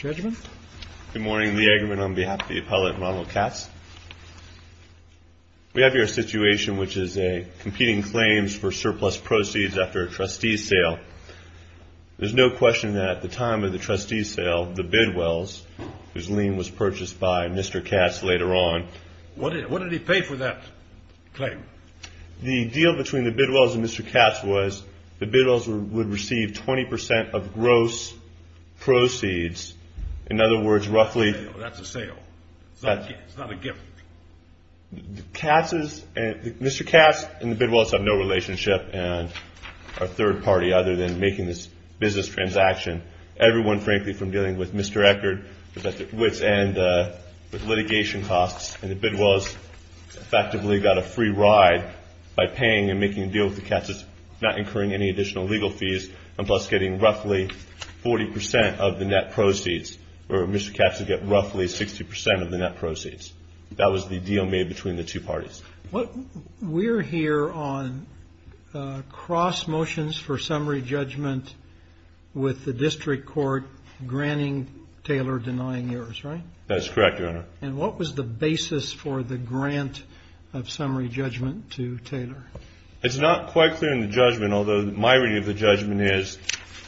Good morning. Lee Eggerman on behalf of the appellate Ronald Katz. We have here a situation which is competing claims for surplus proceeds after a trustee sale. There's no question that at the time of the trustee sale, the bid wells, whose lien was purchased by Mr. Katz later on. What did he pay for that claim? The deal between the bid wells and Mr. Katz was the bid wells would receive 20% of gross proceeds. In other words, roughly. That's a sale. It's not a gift. Mr. Katz and the bid wells have no relationship and are third party other than making this business transaction. Everyone, frankly, from dealing with Mr. Eckert, with litigation costs, and the bid wells effectively got a free ride by paying and making a deal with the Katzes, not incurring any additional legal fees, and thus getting roughly 40% of the net proceeds, or Mr. Katz would get roughly 60% of the net proceeds. That was the deal made between the two parties. We're here on cross motions for summary judgment with the district court granting Taylor denying yours, right? That's correct, Your Honor. And what was the basis for the grant of summary judgment to Taylor? It's not quite clear in the judgment, although my reading of the judgment is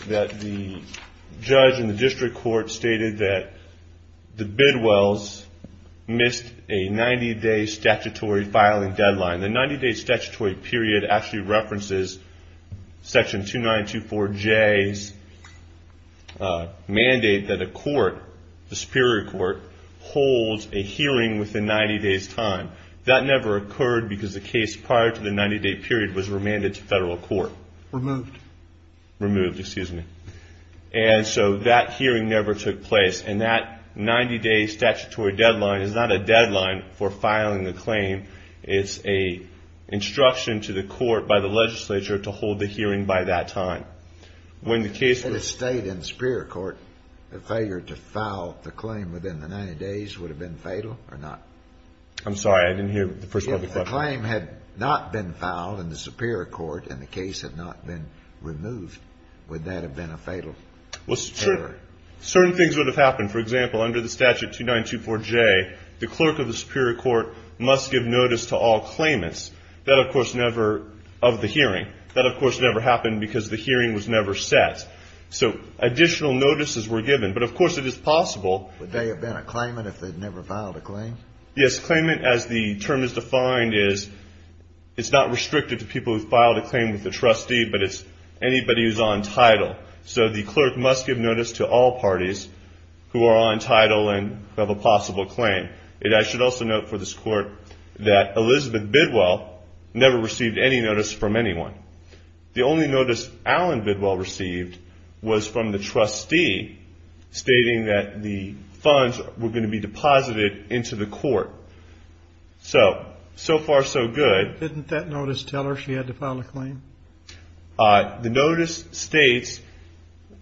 that the judge and the district court stated that the bid wells missed a 90-day statutory filing deadline. The 90-day statutory period actually references Section 2924J's mandate that a court, the Superior Court, holds a hearing within 90 days' time. That never occurred because the case prior to the 90-day period was remanded to federal court. Removed. Removed, excuse me. And so that hearing never took place. And that 90-day statutory deadline is not a deadline for filing a claim. It's an instruction to the court by the legislature to hold the hearing by that time. When the case was... Had it stayed in the Superior Court, the failure to file the claim within the 90 days would have been fatal or not? I'm sorry, I didn't hear the first part of the question. If the claim had not been filed in the Superior Court and the case had not been removed, would that have been a fatal error? Well, certain things would have happened. For example, under the statute 2924J, the clerk of the Superior Court must give notice to all claimants of the hearing. That, of course, never happened because the hearing was never set. So additional notices were given. But, of course, it is possible. Would they have been a claimant if they'd never filed a claim? Yes. Claimant, as the term is defined, is it's not restricted to people who've filed a claim with the trustee, but it's anybody who's on title. So the clerk must give notice to all parties who are on title and have a possible claim. I should also note for this court that Elizabeth Bidwell never received any notice from anyone. The only notice Alan Bidwell received was from the trustee stating that the funds were going to be deposited into the court. So, so far, so good. Didn't that notice tell her she had to file a claim? The notice states,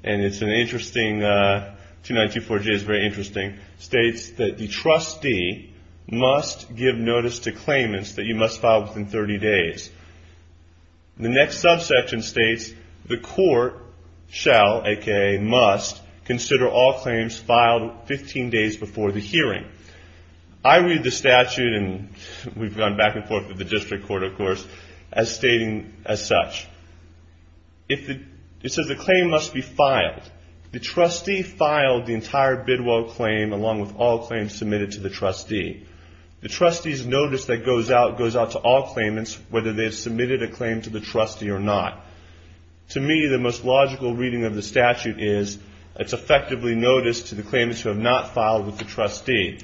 and it's an interesting, 2924J is very interesting, states that the trustee must give notice to claimants that you must file within 30 days. The next subsection states the court shall, a.k.a. must, consider all claims filed 15 days before the hearing. I read the statute, and we've gone back and forth with the district court, of course, as stating as such. It says the claim must be filed. The trustee filed the entire Bidwell claim along with all claims submitted to the trustee. The trustee's notice that goes out goes out to all claimants, whether they've submitted a claim to the trustee or not. To me, the most logical reading of the statute is it's effectively notice to the claimants who have not filed with the trustee.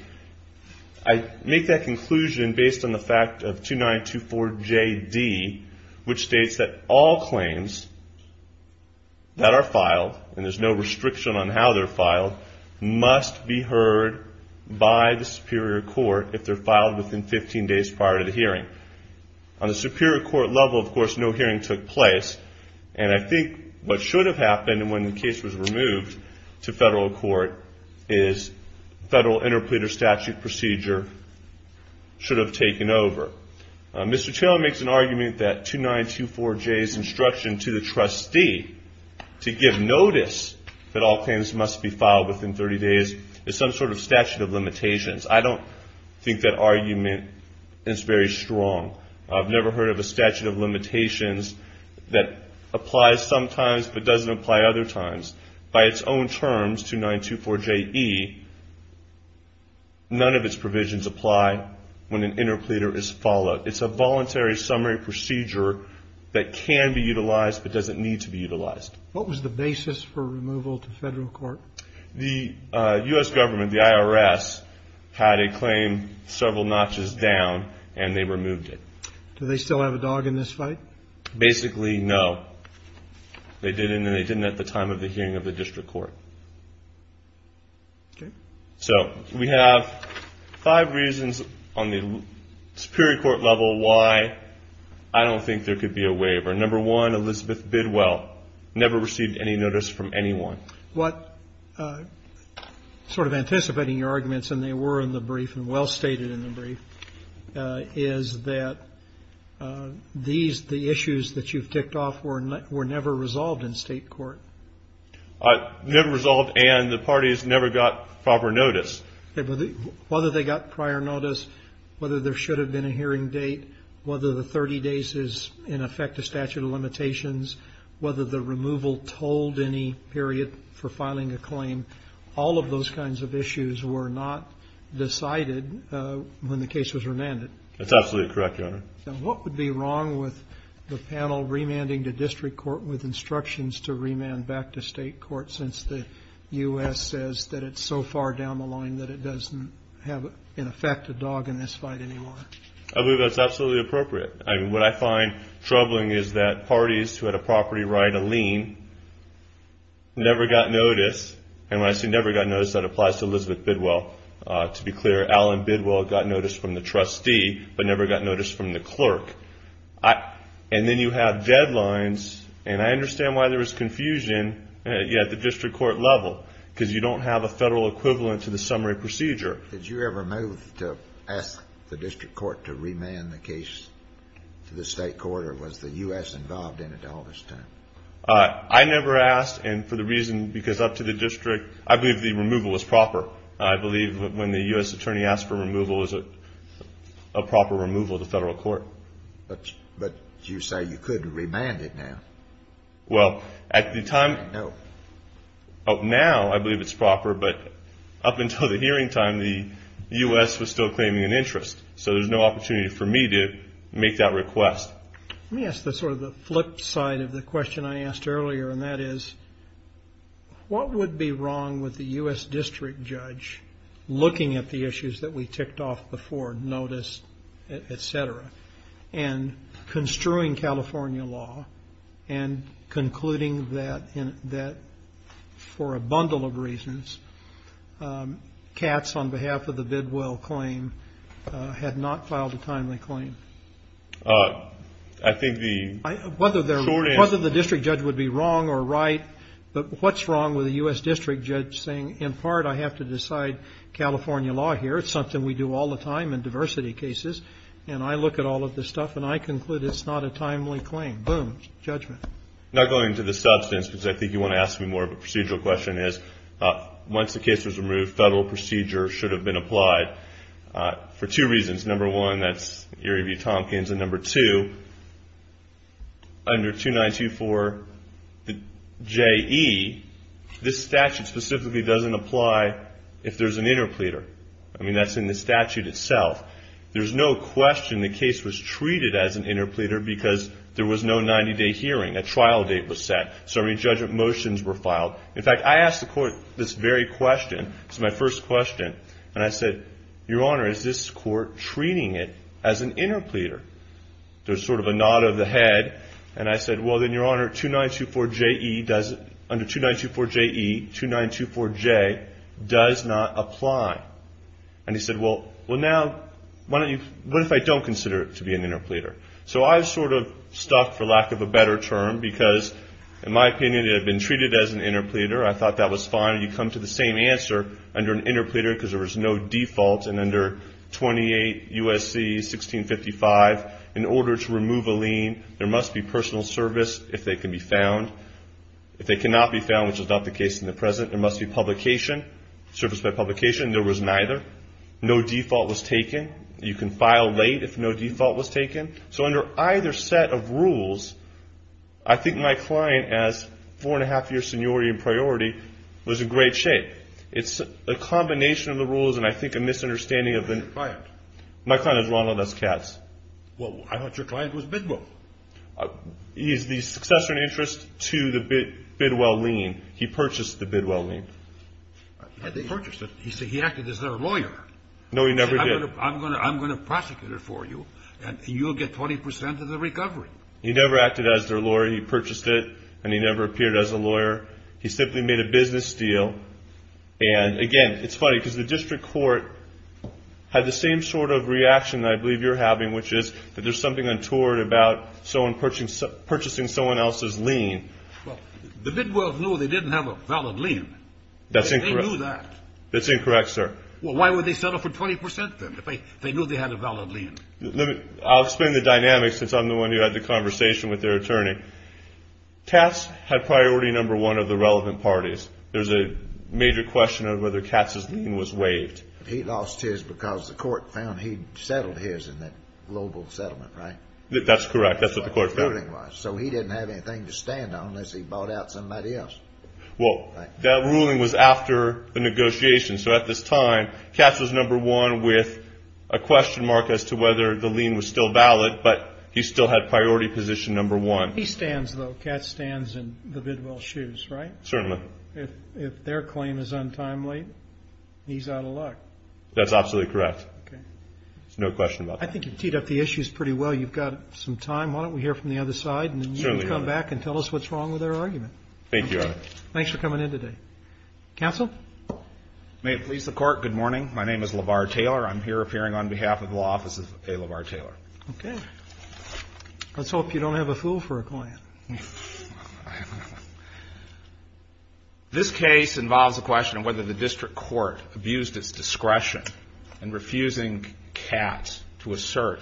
I make that conclusion based on the fact of 2924JD, which states that all claims that are filed, and there's no restriction on how they're filed, must be heard by the superior court if they're filed within 15 days prior to the hearing. On the superior court level, of course, no hearing took place. And I think what should have happened when the case was removed to federal court is federal interpleader statute procedure should have taken over. Mr. Taylor makes an argument that 2924J's instruction to the trustee to give notice that all claims must be filed within 30 days is some sort of statute of limitations. I don't think that argument is very strong. I've never heard of a statute of limitations that applies sometimes but doesn't apply other times. By its own terms, 2924JE, none of its provisions apply when an interpleader is followed. It's a voluntary summary procedure that can be utilized but doesn't need to be utilized. What was the basis for removal to federal court? The U.S. government, the IRS, had a claim several notches down, and they removed it. Do they still have a dog in this fight? Basically, no. They didn't, and they didn't at the time of the hearing of the district court. Okay. So we have five reasons on the superior court level why I don't think there could be a waiver. Number one, Elizabeth Bidwell never received any notice from anyone. What sort of anticipating your arguments, and they were in the brief and well stated in the brief, is that these, the issues that you've ticked off, were never resolved in state court. Never resolved, and the parties never got proper notice. Whether they got prior notice, whether there should have been a hearing date, whether the 30 days is, in effect, a statute of limitations, whether the removal told any period for filing a claim, all of those kinds of issues were not decided when the case was remanded. That's absolutely correct, Your Honor. What would be wrong with the panel remanding the district court with instructions to remand back to state court since the U.S. says that it's so far down the line that it doesn't have, in effect, a dog in this fight anymore? I believe that's absolutely appropriate. What I find troubling is that parties who had a property right, a lien, never got notice, and when I say never got notice, that applies to Elizabeth Bidwell. To be clear, Alan Bidwell got notice from the trustee, but never got notice from the clerk. And then you have deadlines, and I understand why there was confusion at the district court level because you don't have a federal equivalent to the summary procedure. Did you ever move to ask the district court to remand the case to the state court, or was the U.S. involved in it all this time? I never asked, and for the reason, because up to the district, I believe the removal was proper. I believe when the U.S. attorney asked for removal, it was a proper removal to federal court. But you say you couldn't remand it now. Well, at the time, now I believe it's proper, but up until the hearing time, the U.S. was still claiming an interest. So there's no opportunity for me to make that request. Let me ask sort of the flip side of the question I asked earlier, and that is what would be wrong with the U.S. district judge looking at the issues that we ticked off before, notice, et cetera, and construing California law and concluding that for a bundle of reasons, Katz, on behalf of the Bidwell claim, had not filed a timely claim? I think the short answer is... Whether the district judge would be wrong or right, but what's wrong with the U.S. district judge saying, in part, I have to decide California law here. It's something we do all the time in diversity cases, and I look at all of this stuff, and I conclude it's not a timely claim. Boom. Judgment. Not going into the substance, because I think you want to ask me more of a procedural question, is once the case was removed, federal procedure should have been applied for two reasons. Number one, that's Erie View Tompkins. And number two, under 2924 JE, this statute specifically doesn't apply if there's an interpleader. I mean, that's in the statute itself. There's no question the case was treated as an interpleader because there was no 90-day hearing. A trial date was set. So many judgment motions were filed. In fact, I asked the court this very question. This was my first question, and I said, Your Honor, is this court treating it as an interpleader? There was sort of a nod of the head, and I said, well, then, Your Honor, under 2924 JE, 2924J does not apply. And he said, well, now, what if I don't consider it to be an interpleader? So I was sort of stuck, for lack of a better term, because in my opinion it had been treated as an interpleader. I thought that was fine. You come to the same answer under an interpleader because there was no default, and under 28 U.S.C. 1655, in order to remove a lien, there must be personal service if they can be found. If they cannot be found, which is not the case in the present, there must be publication, service by publication, and there was neither. No default was taken. You can file late if no default was taken. So under either set of rules, I think my client as four-and-a-half-year seniority and priority was in great shape. It's a combination of the rules and I think a misunderstanding of the client. My client is Ronald S. Katz. Well, I thought your client was Bidwell. He is the successor in interest to the Bidwell lien. He purchased the Bidwell lien. He purchased it. He acted as their lawyer. No, he never did. He said, I'm going to prosecute it for you, and you'll get 20 percent of the recovery. He never acted as their lawyer. He purchased it, and he never appeared as a lawyer. He simply made a business deal. And, again, it's funny because the district court had the same sort of reaction that I believe you're having, which is that there's something untoward about someone purchasing someone else's lien. Well, the Bidwells knew they didn't have a valid lien. That's incorrect. They knew that. That's incorrect, sir. Well, why would they settle for 20 percent then if they knew they had a valid lien? I'll explain the dynamics since I'm the one who had the conversation with their attorney. Katz had priority number one of the relevant parties. There's a major question of whether Katz's lien was waived. He lost his because the court found he settled his in that global settlement, right? That's correct. That's what the court found. That's what the ruling was. So he didn't have anything to stand on unless he bought out somebody else. Well, that ruling was after the negotiation. So at this time, Katz was number one with a question mark as to whether the lien was still valid, but he still had priority position number one. He stands, though. Katz stands in the Bidwell's shoes, right? Certainly. If their claim is untimely, he's out of luck. That's absolutely correct. There's no question about that. I think you've teed up the issues pretty well. You've got some time. We hear from the other side, and then you can come back and tell us what's wrong with our argument. Thank you, Your Honor. Thanks for coming in today. Counsel? May it please the Court, good morning. My name is LeVar Taylor. I'm here appearing on behalf of the Law Office of A. LeVar Taylor. Okay. Let's hope you don't have a fool for a client. This case involves a question of whether the district court abused its discretion in refusing Katz to assert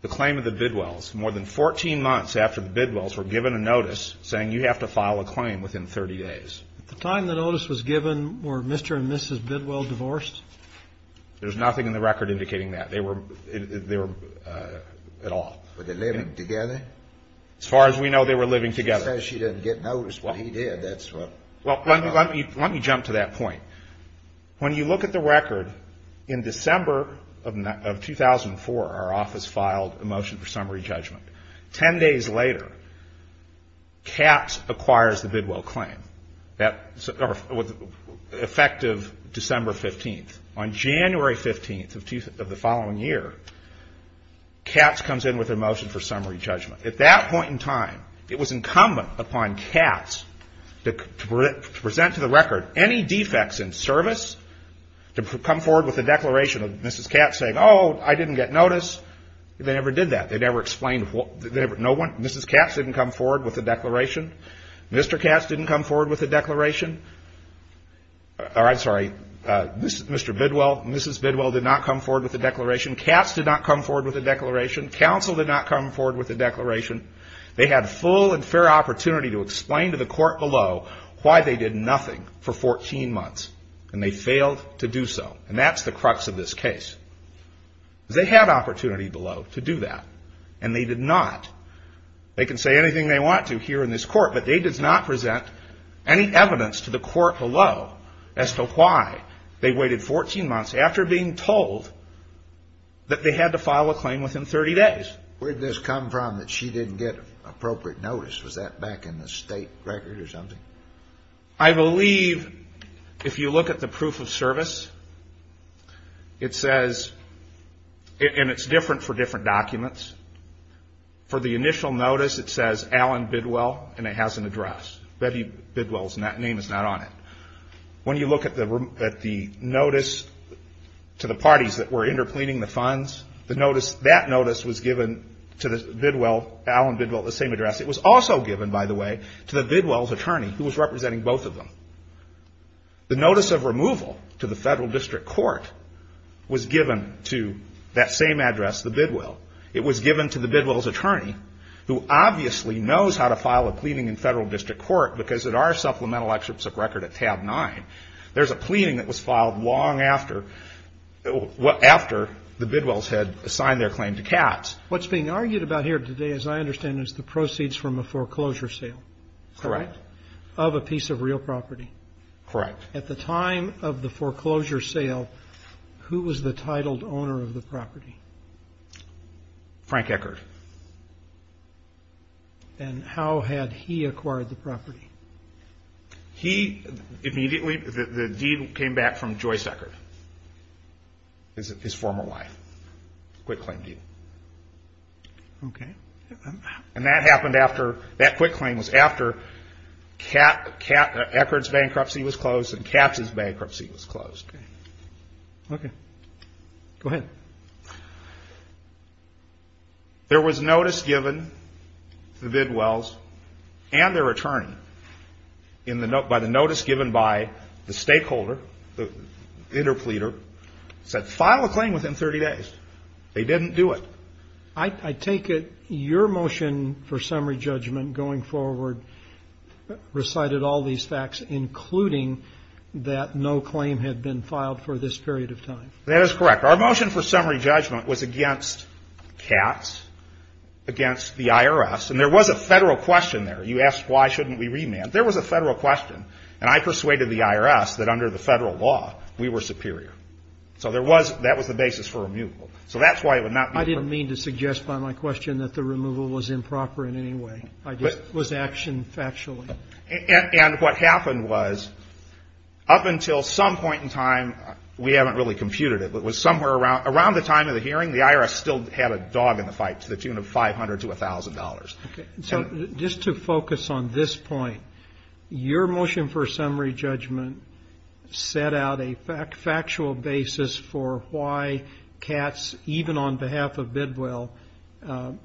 the claim At the time of the Bidwell's, more than 14 months after the Bidwell's were given a notice saying you have to file a claim within 30 days. At the time the notice was given, were Mr. and Mrs. Bidwell divorced? There's nothing in the record indicating that. They were at all. Were they living together? As far as we know, they were living together. She says she didn't get notice, but he did. That's what we know. Well, let me jump to that point. When you look at the record, in December of 2004, our office filed a motion for summary judgment. Ten days later, Katz acquires the Bidwell claim, effective December 15th. On January 15th of the following year, Katz comes in with a motion for summary judgment. At that point in time, it was incumbent upon Katz to present to the record any defects in service, to come forward with a declaration of Mrs. Katz saying, oh, I didn't get notice. They never did that. They never explained. No one, Mrs. Katz didn't come forward with a declaration. Mr. Katz didn't come forward with a declaration. I'm sorry, Mr. Bidwell, Mrs. Bidwell did not come forward with a declaration. Katz did not come forward with a declaration. Counsel did not come forward with a declaration. They had full and fair opportunity to explain to the court below why they did nothing for 14 months, and they failed to do so. And that's the crux of this case. They had opportunity below to do that, and they did not. They can say anything they want to here in this court, but they did not present any evidence to the court below as to why they waited 14 months after being told that they had to file a claim within 30 days. Where did this come from that she didn't get appropriate notice? Was that back in the state record or something? I believe if you look at the proof of service, it says, and it's different for different documents. For the initial notice, it says Allen Bidwell, and it has an address. Betty Bidwell's name is not on it. When you look at the notice to the parties that were interpleading the funds, that notice was given to Allen Bidwell at the same address. It was also given, by the way, to the Bidwell's attorney, who was representing both of them. The notice of removal to the federal district court was given to that same address, the Bidwell. It was given to the Bidwell's attorney, who obviously knows how to file a pleading in federal district court, because it are supplemental excerpts of record at tab 9. There's a pleading that was filed long after the Bidwells had assigned their claim to Katz. What's being argued about here today, as I understand, is the proceeds from a foreclosure sale. Correct. Of a piece of real property. Correct. At the time of the foreclosure sale, who was the titled owner of the property? Frank Eckert. And how had he acquired the property? He immediately, the deed came back from Joyce Eckert, his former wife. Quick claim deed. Okay. And that happened after, that quick claim was after Eckert's bankruptcy was closed and Katz's bankruptcy was closed. Okay. Go ahead. Okay. There was notice given to the Bidwells and their attorney by the notice given by the stakeholder, the interpleader, said file a claim within 30 days. They didn't do it. I take it your motion for summary judgment going forward recited all these facts, including that no claim had been filed for this period of time. That is correct. Our motion for summary judgment was against Katz, against the IRS. And there was a Federal question there. You asked why shouldn't we remand. There was a Federal question. And I persuaded the IRS that under the Federal law, we were superior. So there was, that was the basis for removal. So that's why it would not be. I didn't mean to suggest by my question that the removal was improper in any way. It was action factually. And what happened was up until some point in time, we haven't really computed it, but it was somewhere around the time of the hearing, the IRS still had a dog in the fight to the tune of $500 to $1,000. Okay. So just to focus on this point, your motion for summary judgment set out a factual basis for why Katz, even on behalf of Bidwell,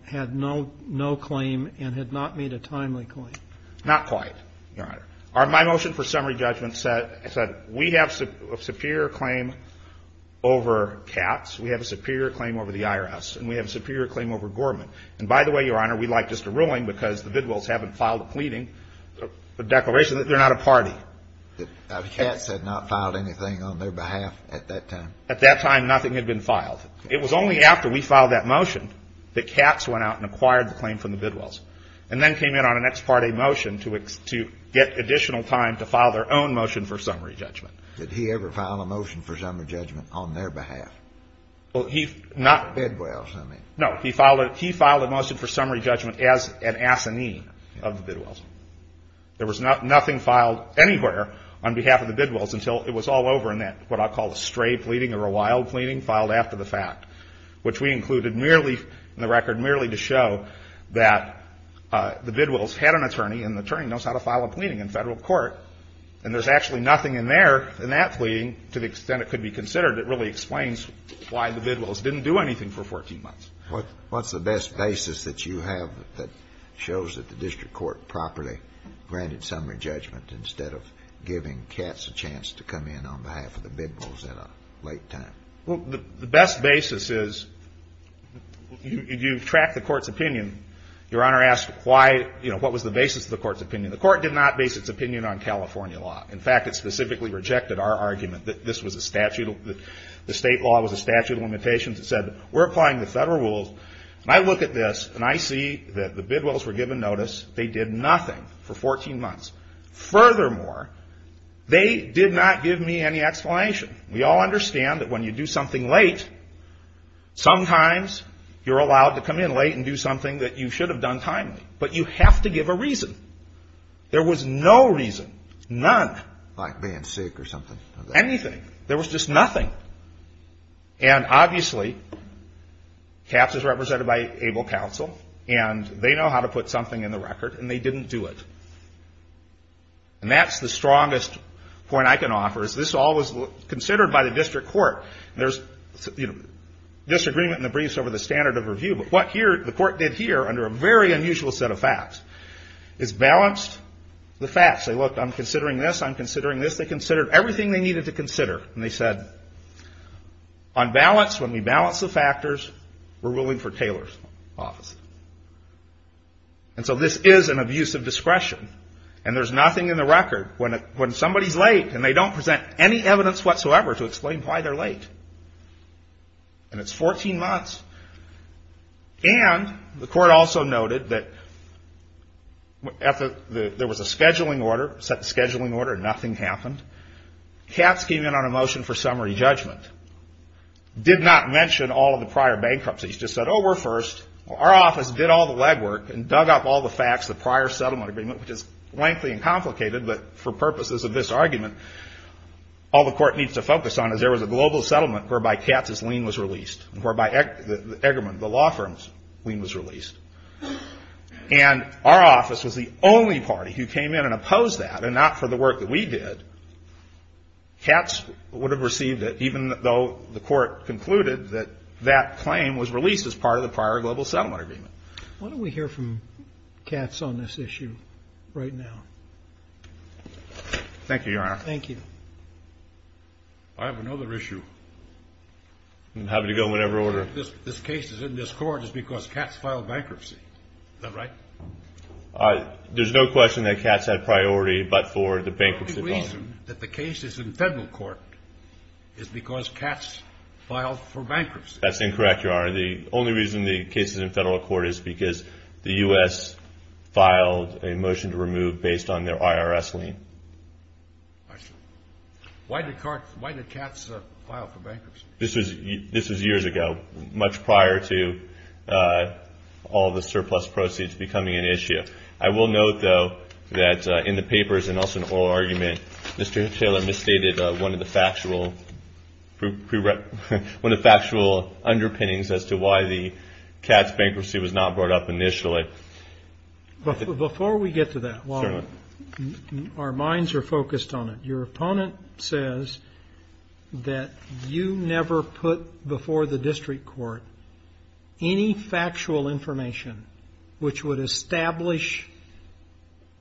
had no claim and had not made a timely claim. Not quite, Your Honor. My motion for summary judgment said we have a superior claim over Katz. We have a superior claim over the IRS. And we have a superior claim over Gorman. And by the way, Your Honor, we'd like just a ruling because the Bidwells haven't filed a pleading, a declaration that they're not a party. Katz had not filed anything on their behalf at that time. At that time, nothing had been filed. It was only after we filed that motion that Katz went out and acquired the claim from the Bidwells and then came in on an ex parte motion to get additional time to file their own motion for summary judgment. Did he ever file a motion for summary judgment on their behalf? Well, he not. The Bidwells, I mean. No. He filed a motion for summary judgment as an assignee of the Bidwells. There was nothing filed anywhere on behalf of the Bidwells until it was all over and that what I call a stray pleading or a wild pleading filed after the fact, which we included merely in the record merely to show that the Bidwells had an attorney and the attorney knows how to file a pleading in federal court and there's actually nothing in there in that pleading to the extent it could be considered. It really explains why the Bidwells didn't do anything for 14 months. What's the best basis that you have that shows that the district court properly granted summary judgment instead of giving Katz a chance to come in on behalf of the Bidwells at a late time? Well, the best basis is you track the court's opinion. Your Honor asked why, you know, what was the basis of the court's opinion. The court did not base its opinion on California law. In fact, it specifically rejected our argument that this was a statute, the state law was a statute of limitations that said we're applying the federal rules. And I look at this and I see that the Bidwells were given notice. They did nothing for 14 months. Furthermore, they did not give me any explanation. We all understand that when you do something late, sometimes you're allowed to come in late and do something that you should have done timely. But you have to give a reason. There was no reason, none. Like being sick or something? Anything. There was just nothing. And obviously Katz is represented by ABLE counsel and they know how to put something in the record and they didn't do it. And that's the strongest point I can offer. This all was considered by the district court. There's disagreement in the briefs over the standard of review. But what the court did here under a very unusual set of facts is balanced the facts. They looked, I'm considering this, I'm considering this. They considered everything they needed to consider. And they said, on balance, when we balance the factors, we're ruling for Taylor's office. And so this is an abuse of discretion. And there's nothing in the record. When somebody's late and they don't present any evidence whatsoever to explain why they're late. And it's 14 months. And the court also noted that there was a scheduling order, set the scheduling order, and nothing happened. Katz came in on a motion for summary judgment. Did not mention all of the prior bankruptcies. Just said, oh, we're first. Our office did all the legwork and dug up all the facts, the prior settlement agreement, which is lengthy and complicated, but for purposes of this argument, all the court needs to focus on is there was a global settlement whereby Katz's lien was released, and whereby Eggerman, the law firm's lien was released. And our office was the only party who came in and opposed that, and not for the work that we did. Katz would have received it even though the court concluded that that claim was released as part of the prior global settlement agreement. Why don't we hear from Katz on this issue right now? Thank you, Your Honor. Thank you. I have another issue. I'm happy to go in whatever order. This case is in this court just because Katz filed bankruptcy. Is that right? There's no question that Katz had priority but for the bankruptcy. The only reason that the case is in federal court is because Katz filed for bankruptcy. That's incorrect, Your Honor. The only reason the case is in federal court is because the U.S. filed a motion to remove based on their IRS lien. Why did Katz file for bankruptcy? This was years ago, much prior to all the surplus proceeds becoming an issue. I will note, though, that in the papers and also in oral argument, Mr. Taylor misstated one of the factual underpinnings as to why the Katz bankruptcy was not brought up initially. Before we get to that, while our minds are focused on it, your opponent says that you never put before the district court any factual information which would establish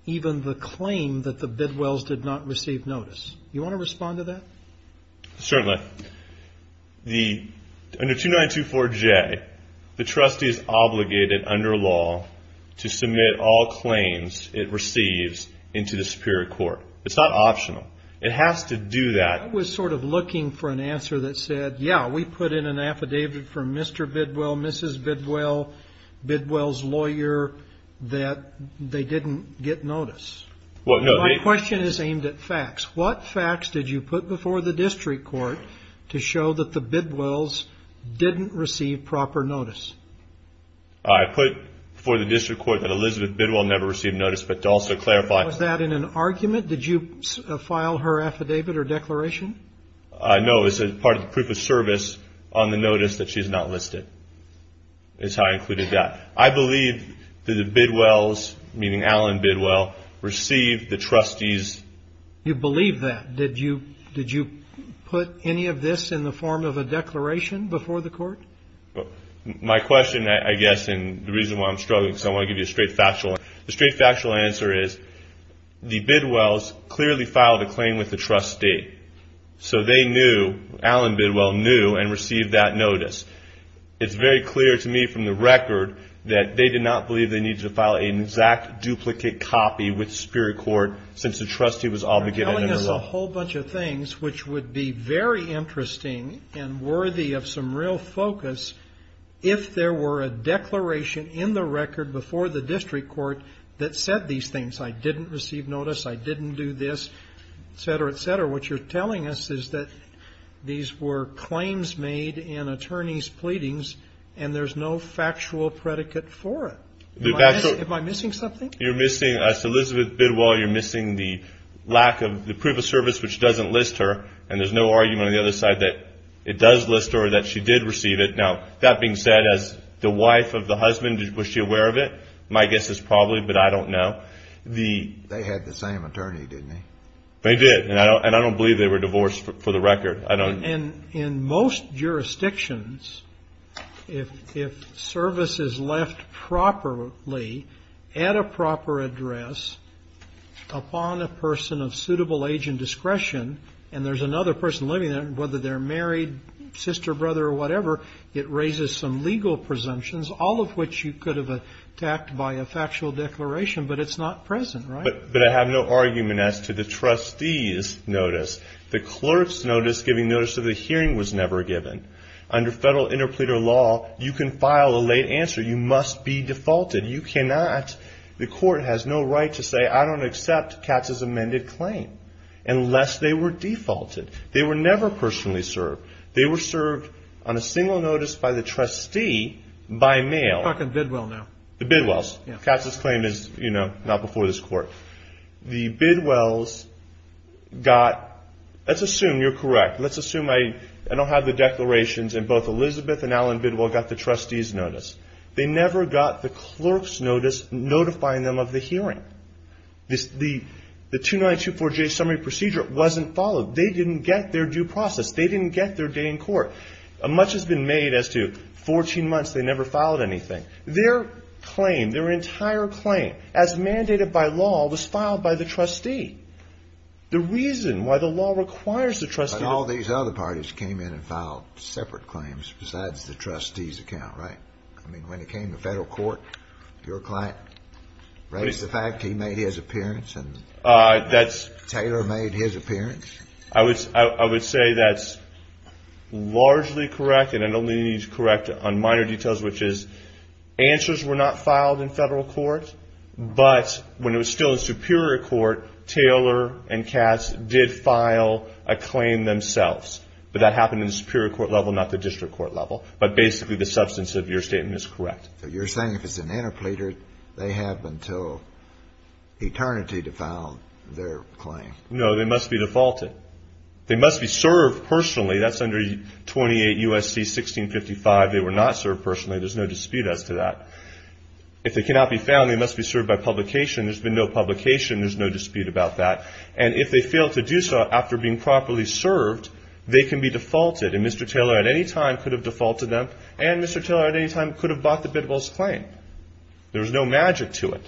even the claim that the Bidwells did not receive notice. Do you want to respond to that? Certainly. Under 2924J, the trustee is obligated under law to submit all claims it receives into the superior court. It's not optional. It has to do that. I was sort of looking for an answer that said, yeah, we put in an affidavit for Mr. Bidwell, Mrs. Bidwell, Bidwell's lawyer, that they didn't get notice. My question is aimed at facts. What facts did you put before the district court to show that the Bidwells didn't receive proper notice? I put before the district court that Elizabeth Bidwell never received notice, but to also clarify. Was that in an argument? Did you file her affidavit or declaration? No, it was part of the proof of service on the notice that she's not listed is how I included that. I believe that the Bidwells, meaning Alan Bidwell, received the trustee's. You believe that? Did you put any of this in the form of a declaration before the court? My question, I guess, and the reason why I'm struggling is I want to give you a straight factual answer. The straight factual answer is the Bidwells clearly filed a claim with the trustee. So they knew, Alan Bidwell knew and received that notice. It's very clear to me from the record that they did not believe they needed to file an exact duplicate copy with Superior Court since the trustee was obligated under the law. You're telling us a whole bunch of things which would be very interesting and worthy of some real focus if there were a declaration in the record before the district court that said these things. I didn't receive notice. I didn't do this, et cetera, et cetera. What you're telling us is that these were claims made in attorney's pleadings, and there's no factual predicate for it. Am I missing something? You're missing, as Elizabeth Bidwell, you're missing the lack of the proof of service which doesn't list her, and there's no argument on the other side that it does list her or that she did receive it. Now, that being said, as the wife of the husband, was she aware of it? My guess is probably, but I don't know. They had the same attorney, didn't they? They did, and I don't believe they were divorced for the record. In most jurisdictions, if service is left properly at a proper address upon a person of suitable age and discretion, and there's another person living there, whether they're married, sister, brother, or whatever, it raises some legal presumptions, all of which you could have attacked by a factual declaration, but it's not present, right? But I have no argument as to the trustee's notice. The clerk's notice giving notice to the hearing was never given. Under federal interpleader law, you can file a late answer. You must be defaulted. You cannot. The court has no right to say, I don't accept Katz's amended claim, unless they were defaulted. They were never personally served. They were served on a single notice by the trustee by mail. You're talking Bidwell now. The Bidwells. Katz's claim is, you know, not before this court. The Bidwells got, let's assume you're correct. Let's assume I don't have the declarations, and both Elizabeth and Alan Bidwell got the trustee's notice. They never got the clerk's notice notifying them of the hearing. The 2924J summary procedure wasn't followed. They didn't get their due process. They didn't get their day in court. Much has been made as to 14 months, they never filed anything. Their claim, their entire claim, as mandated by law, was filed by the trustee. I mean, when it came to federal court, your client raised the fact he made his appearance, and Taylor made his appearance. I would say that's largely correct, and I don't need to correct on minor details, which is answers were not filed in federal court, but when it was still in superior court, Taylor and Katz did file a claim themselves. But that happened in the superior court level, not the district court level. But basically the substance of your statement is correct. So you're saying if it's an interpleader, they have until eternity to file their claim? No, they must be defaulted. They must be served personally. That's under 28 U.S.C. 1655. They were not served personally. There's no dispute as to that. If they cannot be found, they must be served by publication. There's been no publication. There's no dispute about that. And if they fail to do so after being properly served, they can be defaulted. And Mr. Taylor at any time could have defaulted them, and Mr. Taylor at any time could have bought the Bidwell's claim. There was no magic to it.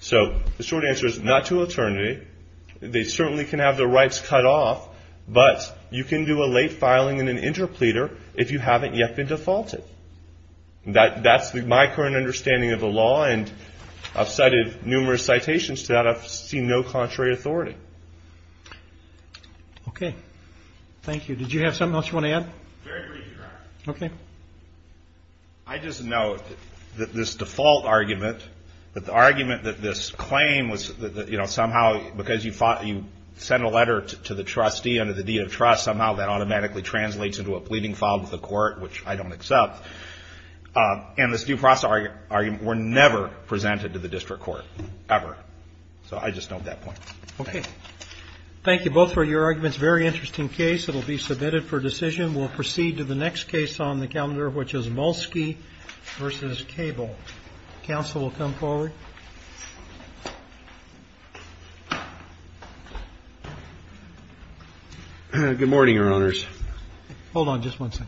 So the short answer is not to eternity. They certainly can have their rights cut off, but you can do a late filing in an interpleader if you haven't yet been defaulted. That's my current understanding of the law, and I've cited numerous citations to that. I've seen no contrary authority. Okay. Thank you. Did you have something else you want to add? Very briefly, Your Honor. Okay. I just note that this default argument, that the argument that this claim was, you know, somehow because you sent a letter to the trustee under the deed of trust, somehow that automatically translates into a pleading file with the court, which I don't accept. And this due process argument were never presented to the district court, ever. So I just note that point. Okay. Thank you both for your arguments. Very interesting case. It will be submitted for decision. We'll proceed to the next case on the calendar, which is Mulsky v. Cable. Counsel will come forward. Good morning, Your Honors. Hold on just one second.